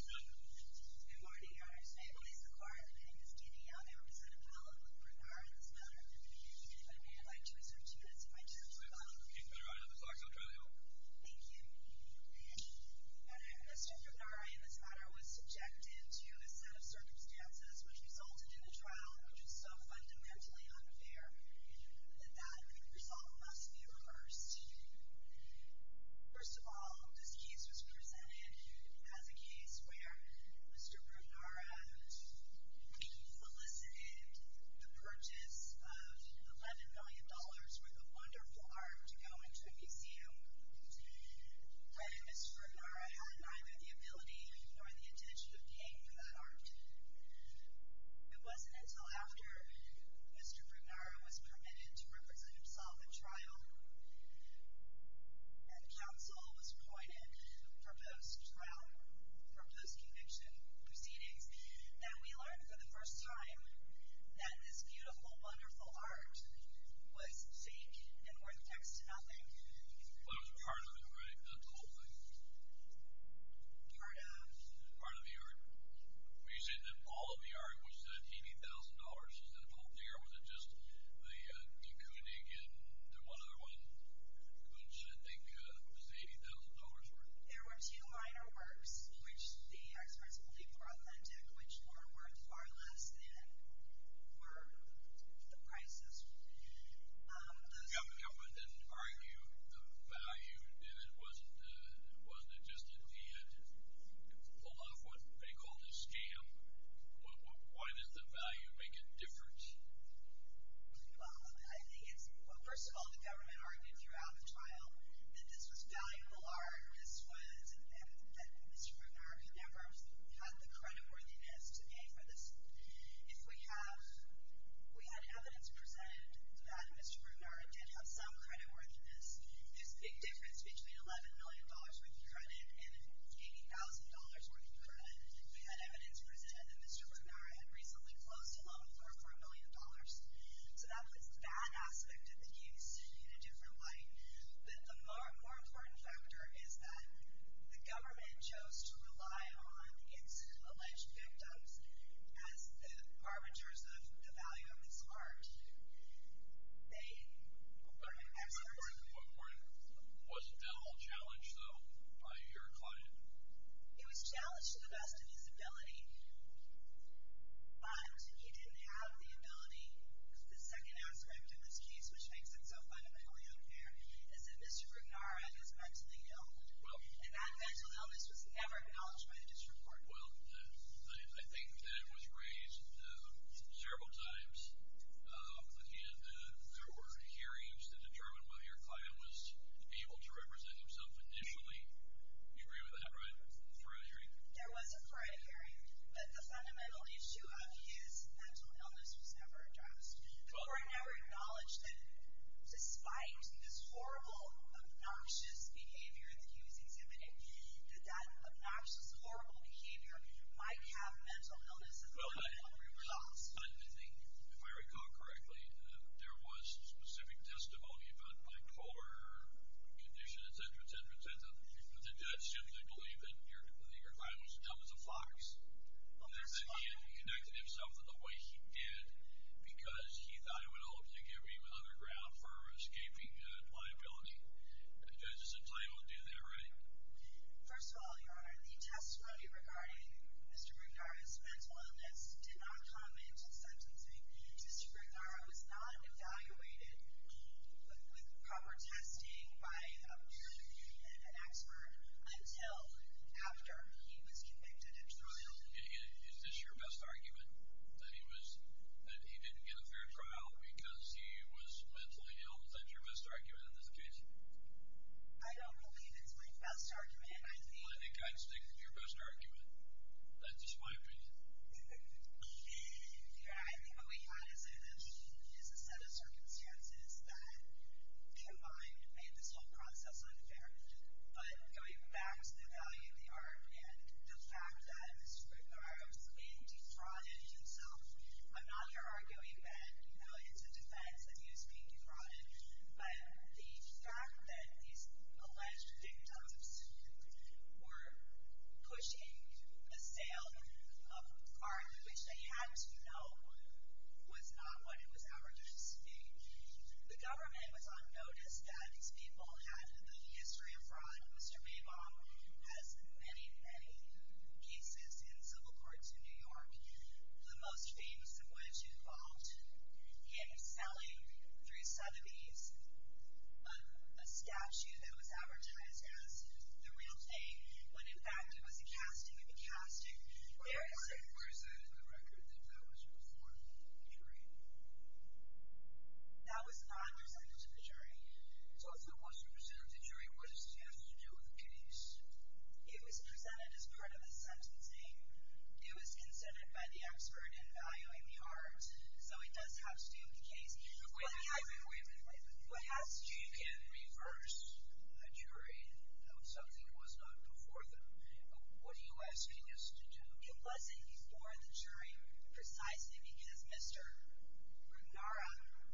Good morning, your honors. May it please the court that I am standing out there to set a pallet with Brugnara in this matter. I'd like to assert justice by doing so. It's been run out of the clock, so I'll try to help. Thank you. Mr. Brugnara in this matter was subjected to a set of circumstances which resulted in a trial which was so fundamentally unfair that that result must be reversed. First of all, this case was presented as a case where Mr. Brugnara elicited the purchase of $11 million worth of wonderful art to go into a museum when Mr. Brugnara had neither the ability nor the intention of paying for that art. It wasn't until after Mr. Brugnara was permitted to represent himself in trial and counsel was appointed for those trial, for those conviction proceedings that we learned for the first time that this beautiful, wonderful art was fake and worth next to nothing. Well, it was part of it, right? Not the whole thing. Part of. Part of the art. Well, you said that all of the art was $80,000. Is that a whole thing, or was it just the Koenig and the one other one, which I think was $80,000 worth? There were two minor works, which the experts believe were authentic, which were worth far less than were the prices. The government didn't argue the value, did it? Wasn't it just that they had pulled off what they called a scam? Why did the value make a difference? Well, I think it's, well, first of all, the government argued throughout the trial that this was valuable art. This was, and Mr. Brugnara never had the creditworthiness to pay for this. If we had evidence presented that Mr. Brugnara did have some creditworthiness, there's a big difference between $11 million worth of credit and $80,000 worth of credit. We had evidence presented that Mr. Brugnara had recently closed a loan for $4 million. So that was that aspect of the use in a different light. But the more important factor is that the government chose to rely on its alleged victims as the arbiters of the value of this art. They were experts. Was Dell challenged, though, by your client? He was challenged to the best of his ability, but he didn't have the ability. The second aspect of this case, which makes it so fundamentally unfair, is that Mr. Brugnara is mentally ill. And that mental illness was never acknowledged by the district court. Well, I think that it was raised several times. And there were hearings that determined whether your client was able to represent himself initially. You agree with that, right? There was a prior hearing. But the fundamental issue of his mental illness was never addressed. The court never acknowledged that despite this horrible, obnoxious behavior that he was exhibiting, that that obnoxious, horrible behavior might have mental illness as a result. If I recall correctly, there was specific testimony about bipolar condition, et cetera, et cetera, et cetera. The judge simply believed that your client was dumb as a fox, and that he hadn't connected himself in the way he did because he thought it would help to give him another ground for escaping liability. The judge is entitled to do that, right? First of all, Your Honor, the testimony regarding Mr. Brugnara's mental illness did not comment on sentencing. Mr. Brugnara was not evaluated with proper testing by an expert until after he was convicted and trialed. Is this your best argument, that he didn't get a fair trial because he was mentally ill? Is that your best argument in this case? I don't believe it's my best argument. Well, I think I'd stick with your best argument. That's just my opinion. Your Honor, I think what we have is a set of circumstances that combined made this whole process unfair. But going back to the value of the argument, the fact that Mr. Brugnara was being defrauded himself, I'm not here arguing that it's a defense that he was being defrauded, but the fact that these alleged victims were pushing the sale of art, which they had to know, was not what it was our duty to do. The government was on notice that these people had a history of fraud. Mr. Maybaum has many, many cases in civil courts in New York, the most famous of which involved him selling, through Sotheby's, a statue that was advertised as the real thing, when in fact it was a casting of a casting. Where is that in the record, that that was a reformed jury? That was not represented to the jury. So if it was represented to the jury, what does it have to do with the case? It was presented as part of a sentencing. It was consented by the expert in valuing the art. So it does have to do with the case. But wait a minute, wait a minute. You can reverse a jury if something was not before them. What are you asking us to do? It wasn't before the jury precisely because Mr. Brugnara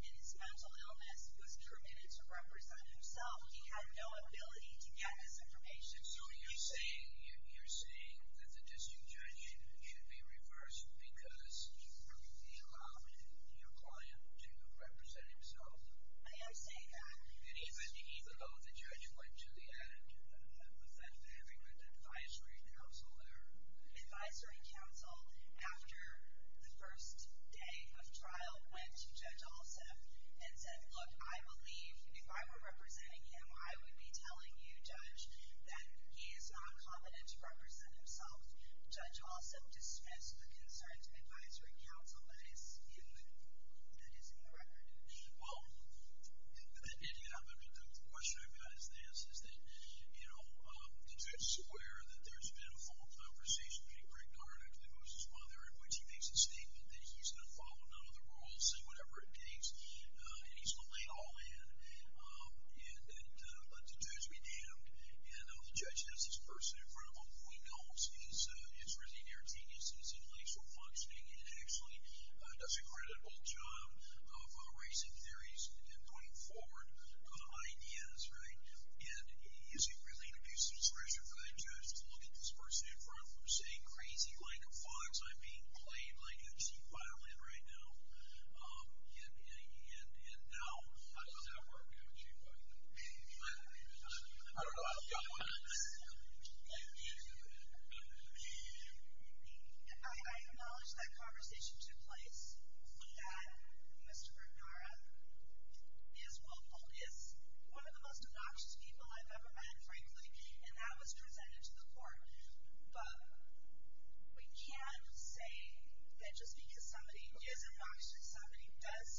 and his mental illness was permitted to represent himself. He had no ability to get his information. And so you're saying that the district judge should be reversed because he allowed your client to represent himself? I am saying that. And even though the judge went to the end, does that vary with advisory counsel there? Advisory counsel, after the first day of trial, went to Judge Olson and said, look, I believe if I were representing him, I would be telling you, Judge, that he is not confident to represent himself. Judge Olson dismissed the concerns of advisory counsel that is in the record. Well, the question I've got is this, is that, you know, does it square that there's been a formal conversation between Greg Garnack, the ghost's father, in which he makes a statement that he's going to follow none other rules, he's going to say whatever it takes, and he's going to lay it all in, and that the judge be damned, and the judge has this person in front of him, who he knows, he's really an air genius, he's intellectually functioning, and actually does an incredible job of erasing theories and pointing forward ideas, right? And is he really going to do some special kind of justice, look at this person in front of him and say, crazy, like a fox, I'm being played like a cheap violin right now? And how does that work? I don't know. I acknowledge that conversation took place, that Mr. Bernara is one of the most obnoxious people I've ever met, frankly, and that was presented to the court. But we can say that just because somebody is obnoxious, somebody does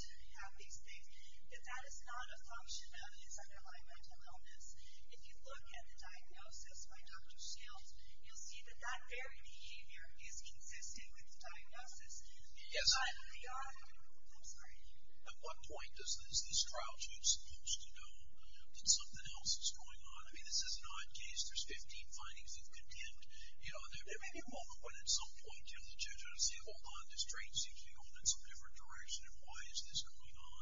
have these things, that that is not a function of his underlying mental illness. If you look at the diagnosis by Dr. Shields, you'll see that that very behavior is consistent with the diagnosis. At what point is this trial judge supposed to know that something else is going on? I mean, this is not a case. There's 15 findings that contend. There may be a moment when at some point the judge ought to say, hold on, this train seems to be going in some different direction, and why is this going on?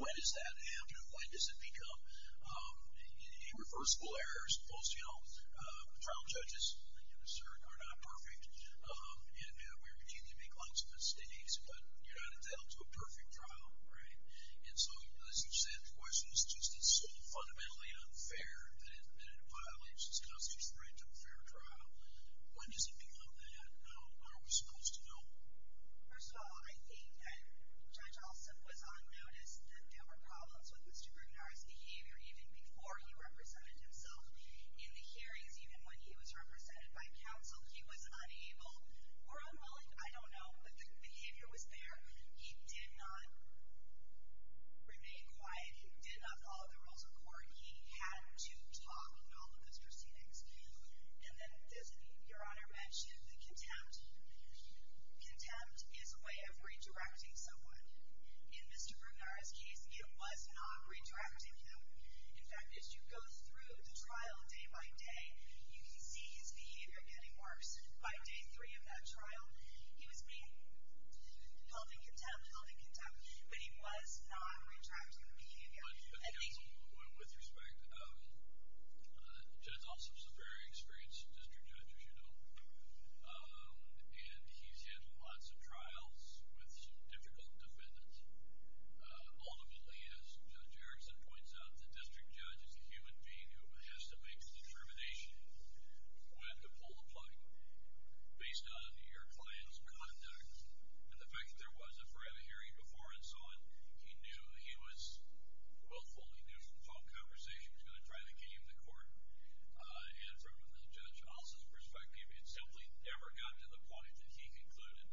When does that happen? When does it become irreversible errors? Most trial judges are not perfect, and we routinely make lots of mistakes, but you're not entitled to a perfect trial, right? And so, as you said, the question is just it's so fundamentally unfair that it violates this counselor's right to a fair trial. When does it become that? How are we supposed to know? First of all, I think that Judge Alston was on notice that there were problems with Mr. Grugnar's behavior even before he represented himself in the hearings. Even when he was represented by counsel, he was unable or unwilling, I don't know, but the behavior was there. He did not remain quiet. He did not follow the rules of court. He had to talk in all of those proceedings. And then, your Honor mentioned the contempt. Contempt is a way of redirecting someone. In Mr. Grugnar's case, it was not redirecting him. In fact, as you go through the trial day by day, you can see his behavior getting worse. By day three of that trial, he was being held in contempt, held in contempt, but he was not retracting the behavior. With respect, Judge Alston is a very experienced district judge, as you know, and he's had lots of trials with difficult defendants. Ultimately, as Judge Erickson points out, the district judge is a human being who has to make the determination when to pull the plug based on your client's conduct. And the fact that there was a forensic hearing before and so on, he knew he was willful. He knew from phone conversations he was going to try to game the court. And from Judge Alston's perspective, it simply never got to the point that he concluded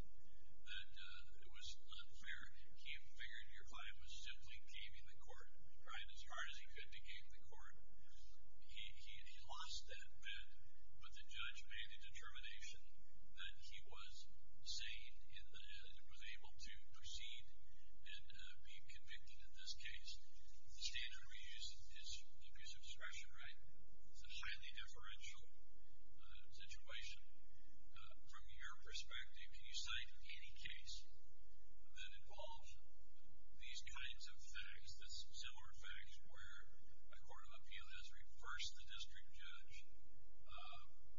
that it was unfair. He figured your client was simply gaming the court, trying as hard as he could to game the court. He lost that bet, but the judge made the determination that he was sane and was able to proceed and be convicted in this case. The standard we use is substration, right? It's a highly deferential situation. From your perspective, can you cite any case that involves these kinds of facts, similar facts where a court of appeal has reversed the district judge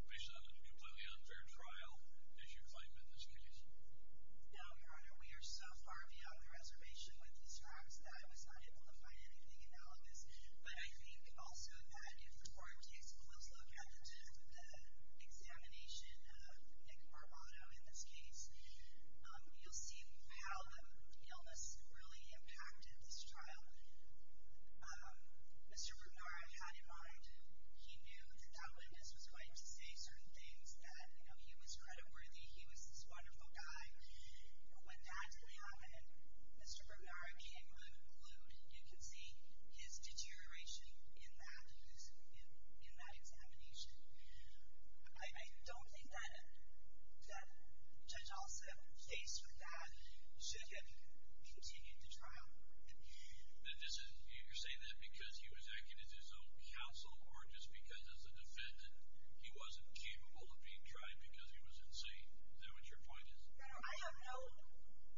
based on a completely unfair trial, as you claim in this case? No, Your Honor. We are so far beyond the reservation with these facts that I was not able to find anything analogous. But I think also that if the court takes a close look at the examination of Nick Barbato in this case, you'll see how the illness really impacted this trial. Mr. Brugnaro had in mind, he knew that that witness was going to say certain things that, you know, he was creditworthy, he was this wonderful guy. When that happened, Mr. Brugnaro came unglued. You can see his deterioration in that examination. I don't think that judge also faced with that should have continued the trial. You're saying that because he was acting as his own counsel or just because as a defendant, he wasn't capable of being tried because he was insane? Is that what your point is? I have no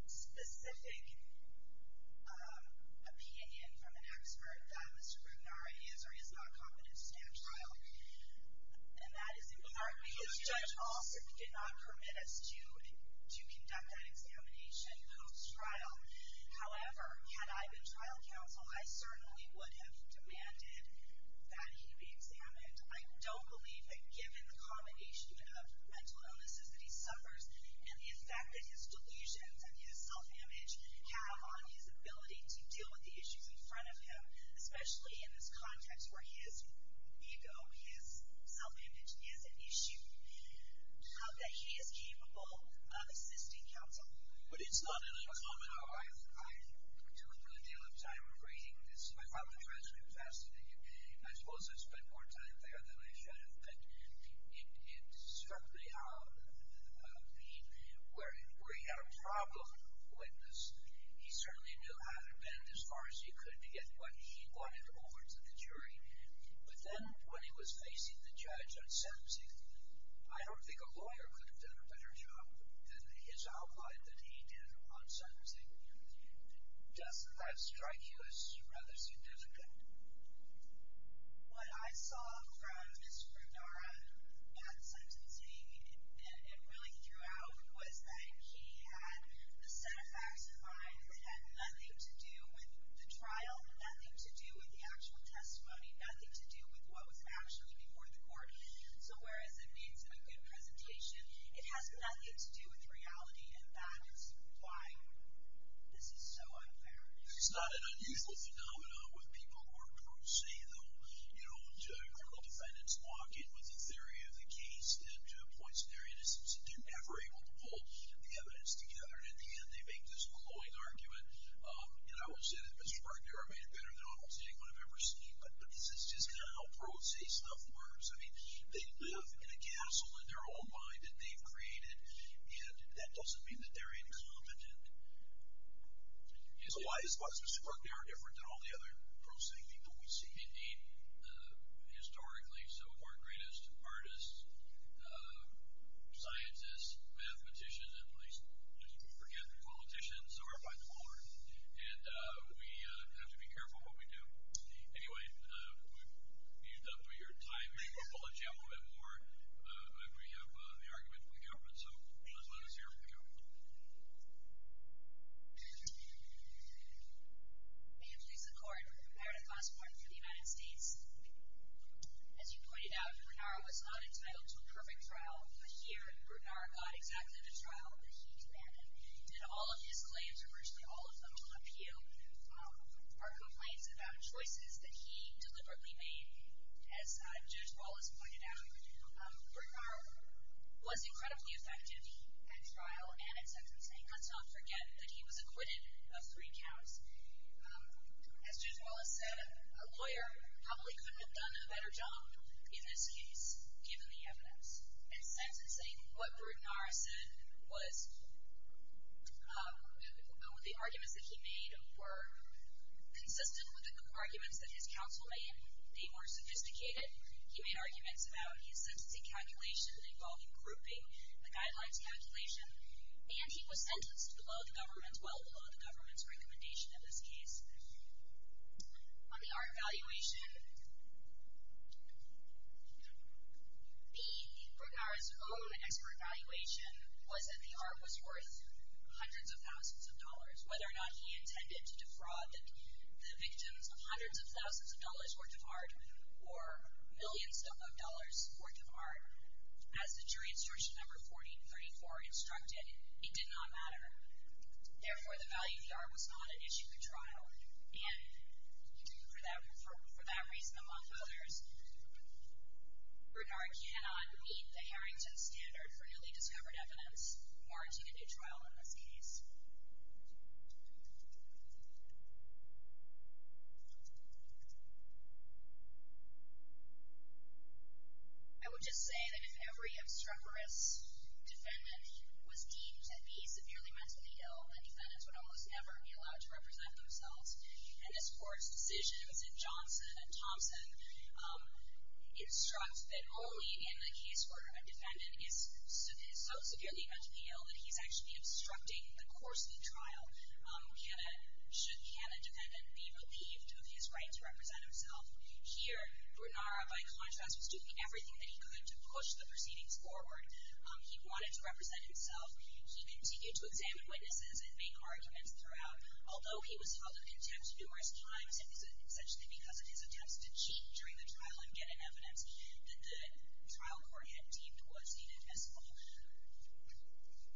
specific opinion from an expert that Mr. Brugnaro is or is not competent to stand trial. And that is in part because judge also did not permit us to conduct that examination post-trial. However, had I been trial counsel, I certainly would have demanded that he be examined. I don't believe that given the combination of mental illnesses that he suffers and the effect that his delusions and his self-image have on his ability to deal with the issues in front of him, especially in this context where his ego, his self-image is an issue, that he is capable of assisting counsel. But it's not uncommon. I took a good deal of time reading this. My father-in-law is fascinating. I suppose I spent more time there than I should have. But it struck me where he had a problem with this. He certainly knew how to bend as far as he could to get what he wanted over to the jury. But then when he was facing the judge on sentencing, I don't think a lawyer could have done a better job than his outline that he did on sentencing. Doesn't that strike you as rather significant? What I saw from Mr. Brugnaro at sentencing and really throughout was that he had a set of facts in mind that had nothing to do with the trial, nothing to do with the actual testimony, nothing to do with what was actually before the court. So whereas it needs a good presentation, it has nothing to do with reality, and that is why this is so unfair. It's not an unusual phenomenon with people who are, per se, the criminal defendants lock in with the theory of the case and are never able to pull the evidence together, and in the end they make this glowing argument. And I will say that Mr. Brugnaro made it better than almost anyone I've ever seen, but this is just kind of how pro se stuff works. I mean, they live in a castle in their own mind that they've created, and that doesn't mean that they're incompetent. So why is Mr. Brugnaro different than all the other pro se people we've seen? He's, indeed, historically some of our greatest artists, scientists, mathematicians, and let's just forget the politicians, and we have to be careful what we do. Anyway, we've used up your time. Maybe we'll let you have a little bit more, but we have the argument from the government, so let's let us hear from the government. Thank you. May it please the Court, Meredith Osborne for the United States. As you pointed out, Brugnaro was not entitled to a perfect trial, but here Brugnaro got exactly the trial that he demanded. He did all of his claims, or virtually all of them, to an appeal. Our complaints about choices that he deliberately made, as Judge Wallace pointed out, Brugnaro was incredibly effective at trial and at sentencing. Let's not forget that he was acquitted of three counts. As Judge Wallace said, a lawyer probably couldn't have done a better job in this case, given the evidence, at sentencing. What Brugnaro said was, the arguments that he made were consistent with the arguments that his counsel made. They were sophisticated. He made arguments about his sentencing calculation involving grouping, the guidelines calculation, and he was sentenced well below the government's recommendation in this case. On the art evaluation, Brugnaro's own expert evaluation was that the art was worth hundreds of thousands of dollars. Whether or not he intended to defraud the victims of hundreds of thousands of dollars worth of art, or millions of dollars worth of art, as the jury instruction number 1434 instructed, it did not matter. Therefore, the value of the art was not an issue at trial, and for that reason among others, Brugnaro cannot meet the Harrington Standard for newly discovered evidence, warranting a new trial in this case. I would just say that if every obstreperous defendant was deemed to be severely mentally ill, the defendants would almost never be allowed to represent themselves, and this Court's decisions in Johnson and Thompson instruct that only in the case where a defendant is so severely mentally ill that he's actually obstructing the course of the trial should can a defendant be relieved of his right to represent himself. Here, Brugnaro, by contrast, was doing everything that he could to push the proceedings forward. He wanted to represent himself. He continued to examine witnesses and make arguments throughout, although he was held in contempt numerous times, essentially because of his attempts to cheat during the trial and get an evidence that the trial court had deemed was inadmissible.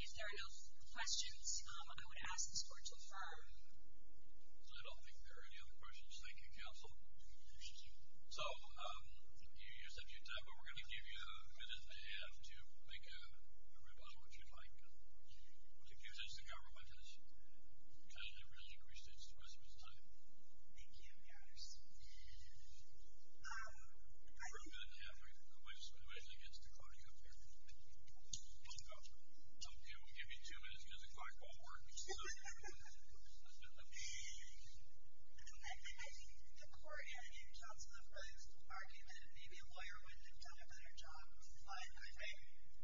If there are no questions, I would ask this Court to affirm. I don't think there are any other questions. Thank you, Counsel. So you said your time, but we're going to give you a minute and a half to make a rebuttal, if you'd like. The government has really increased its response time. Thank you, Your Honor. We're going to give you a minute and a half. We're going to wait until he gets to calling you up here. We'll give you two minutes because the clock won't work. So go ahead. I think the court had in Johnson the first argument that maybe a lawyer would have done a better job, but I think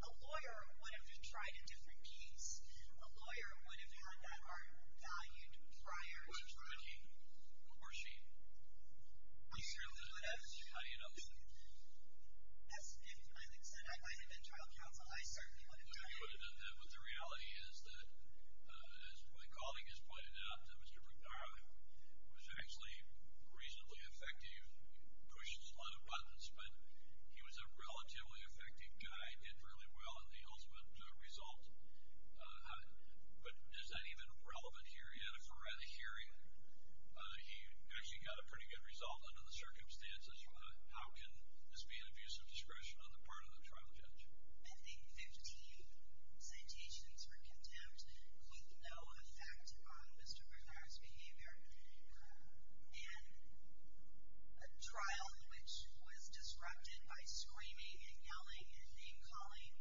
a lawyer would have tried a different piece. A lawyer would have had that art valued prior. Which is Ricky or she? I certainly would have. How do you know? If I had been trial counsel, I certainly would have tried. But the reality is that, as my colleague has pointed out, that Mr. Brignaro was actually reasonably effective, pushed a lot of buttons, but he was a relatively effective guy, did really well in the ultimate result. But is that even relevant here yet? If we're at a hearing, he actually got a pretty good result under the circumstances. How can this be an abuse of discretion on the part of the trial judge? I think 15 citations for contempt with no effect on Mr. Brignaro's behavior in a trial which was disrupted by screaming and yelling and name-calling.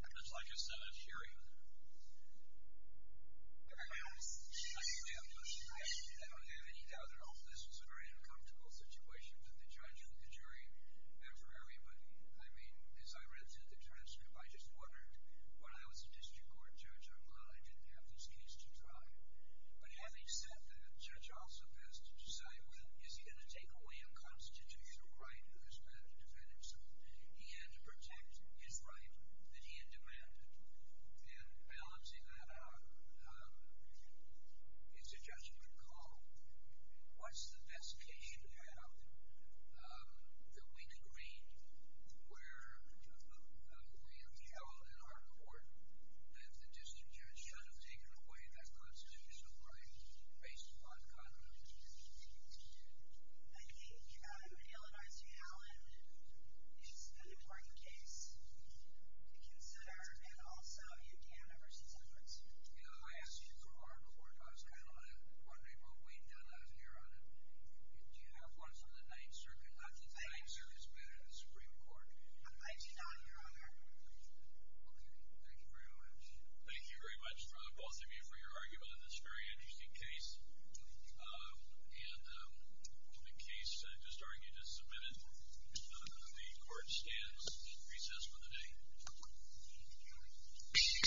That's like a Senate hearing. I don't have any doubt at all. This was a very uncomfortable situation for the judge and the jury, and for everybody. I mean, as I read through the transcript, I just wondered, when I was a district court judge, I'm glad I didn't have this case to try. But having said that, the judge also has to decide, well, is he going to take away a constitutional right that was meant to defend himself? He had to protect his right that he had demanded. And balancing that out, it's a judgment call. What's the best case you have that we can read where we have held in our court that the district judge should have taken away that constitutional right based upon condemnation? I think the Eleanor C. Allen is an important case to consider and also U.K. members, et cetera. I asked you before if I was kind of wondering what we've done out here on it. Do you have one from the Ninth Circuit? I think the Ninth Circuit is better than the Supreme Court. I do not, Your Honor. Okay. Thank you very much. Thank you very much, both of you, for your argument on this very interesting case. And the case I just argued is submitted. The court stands in recess for the day.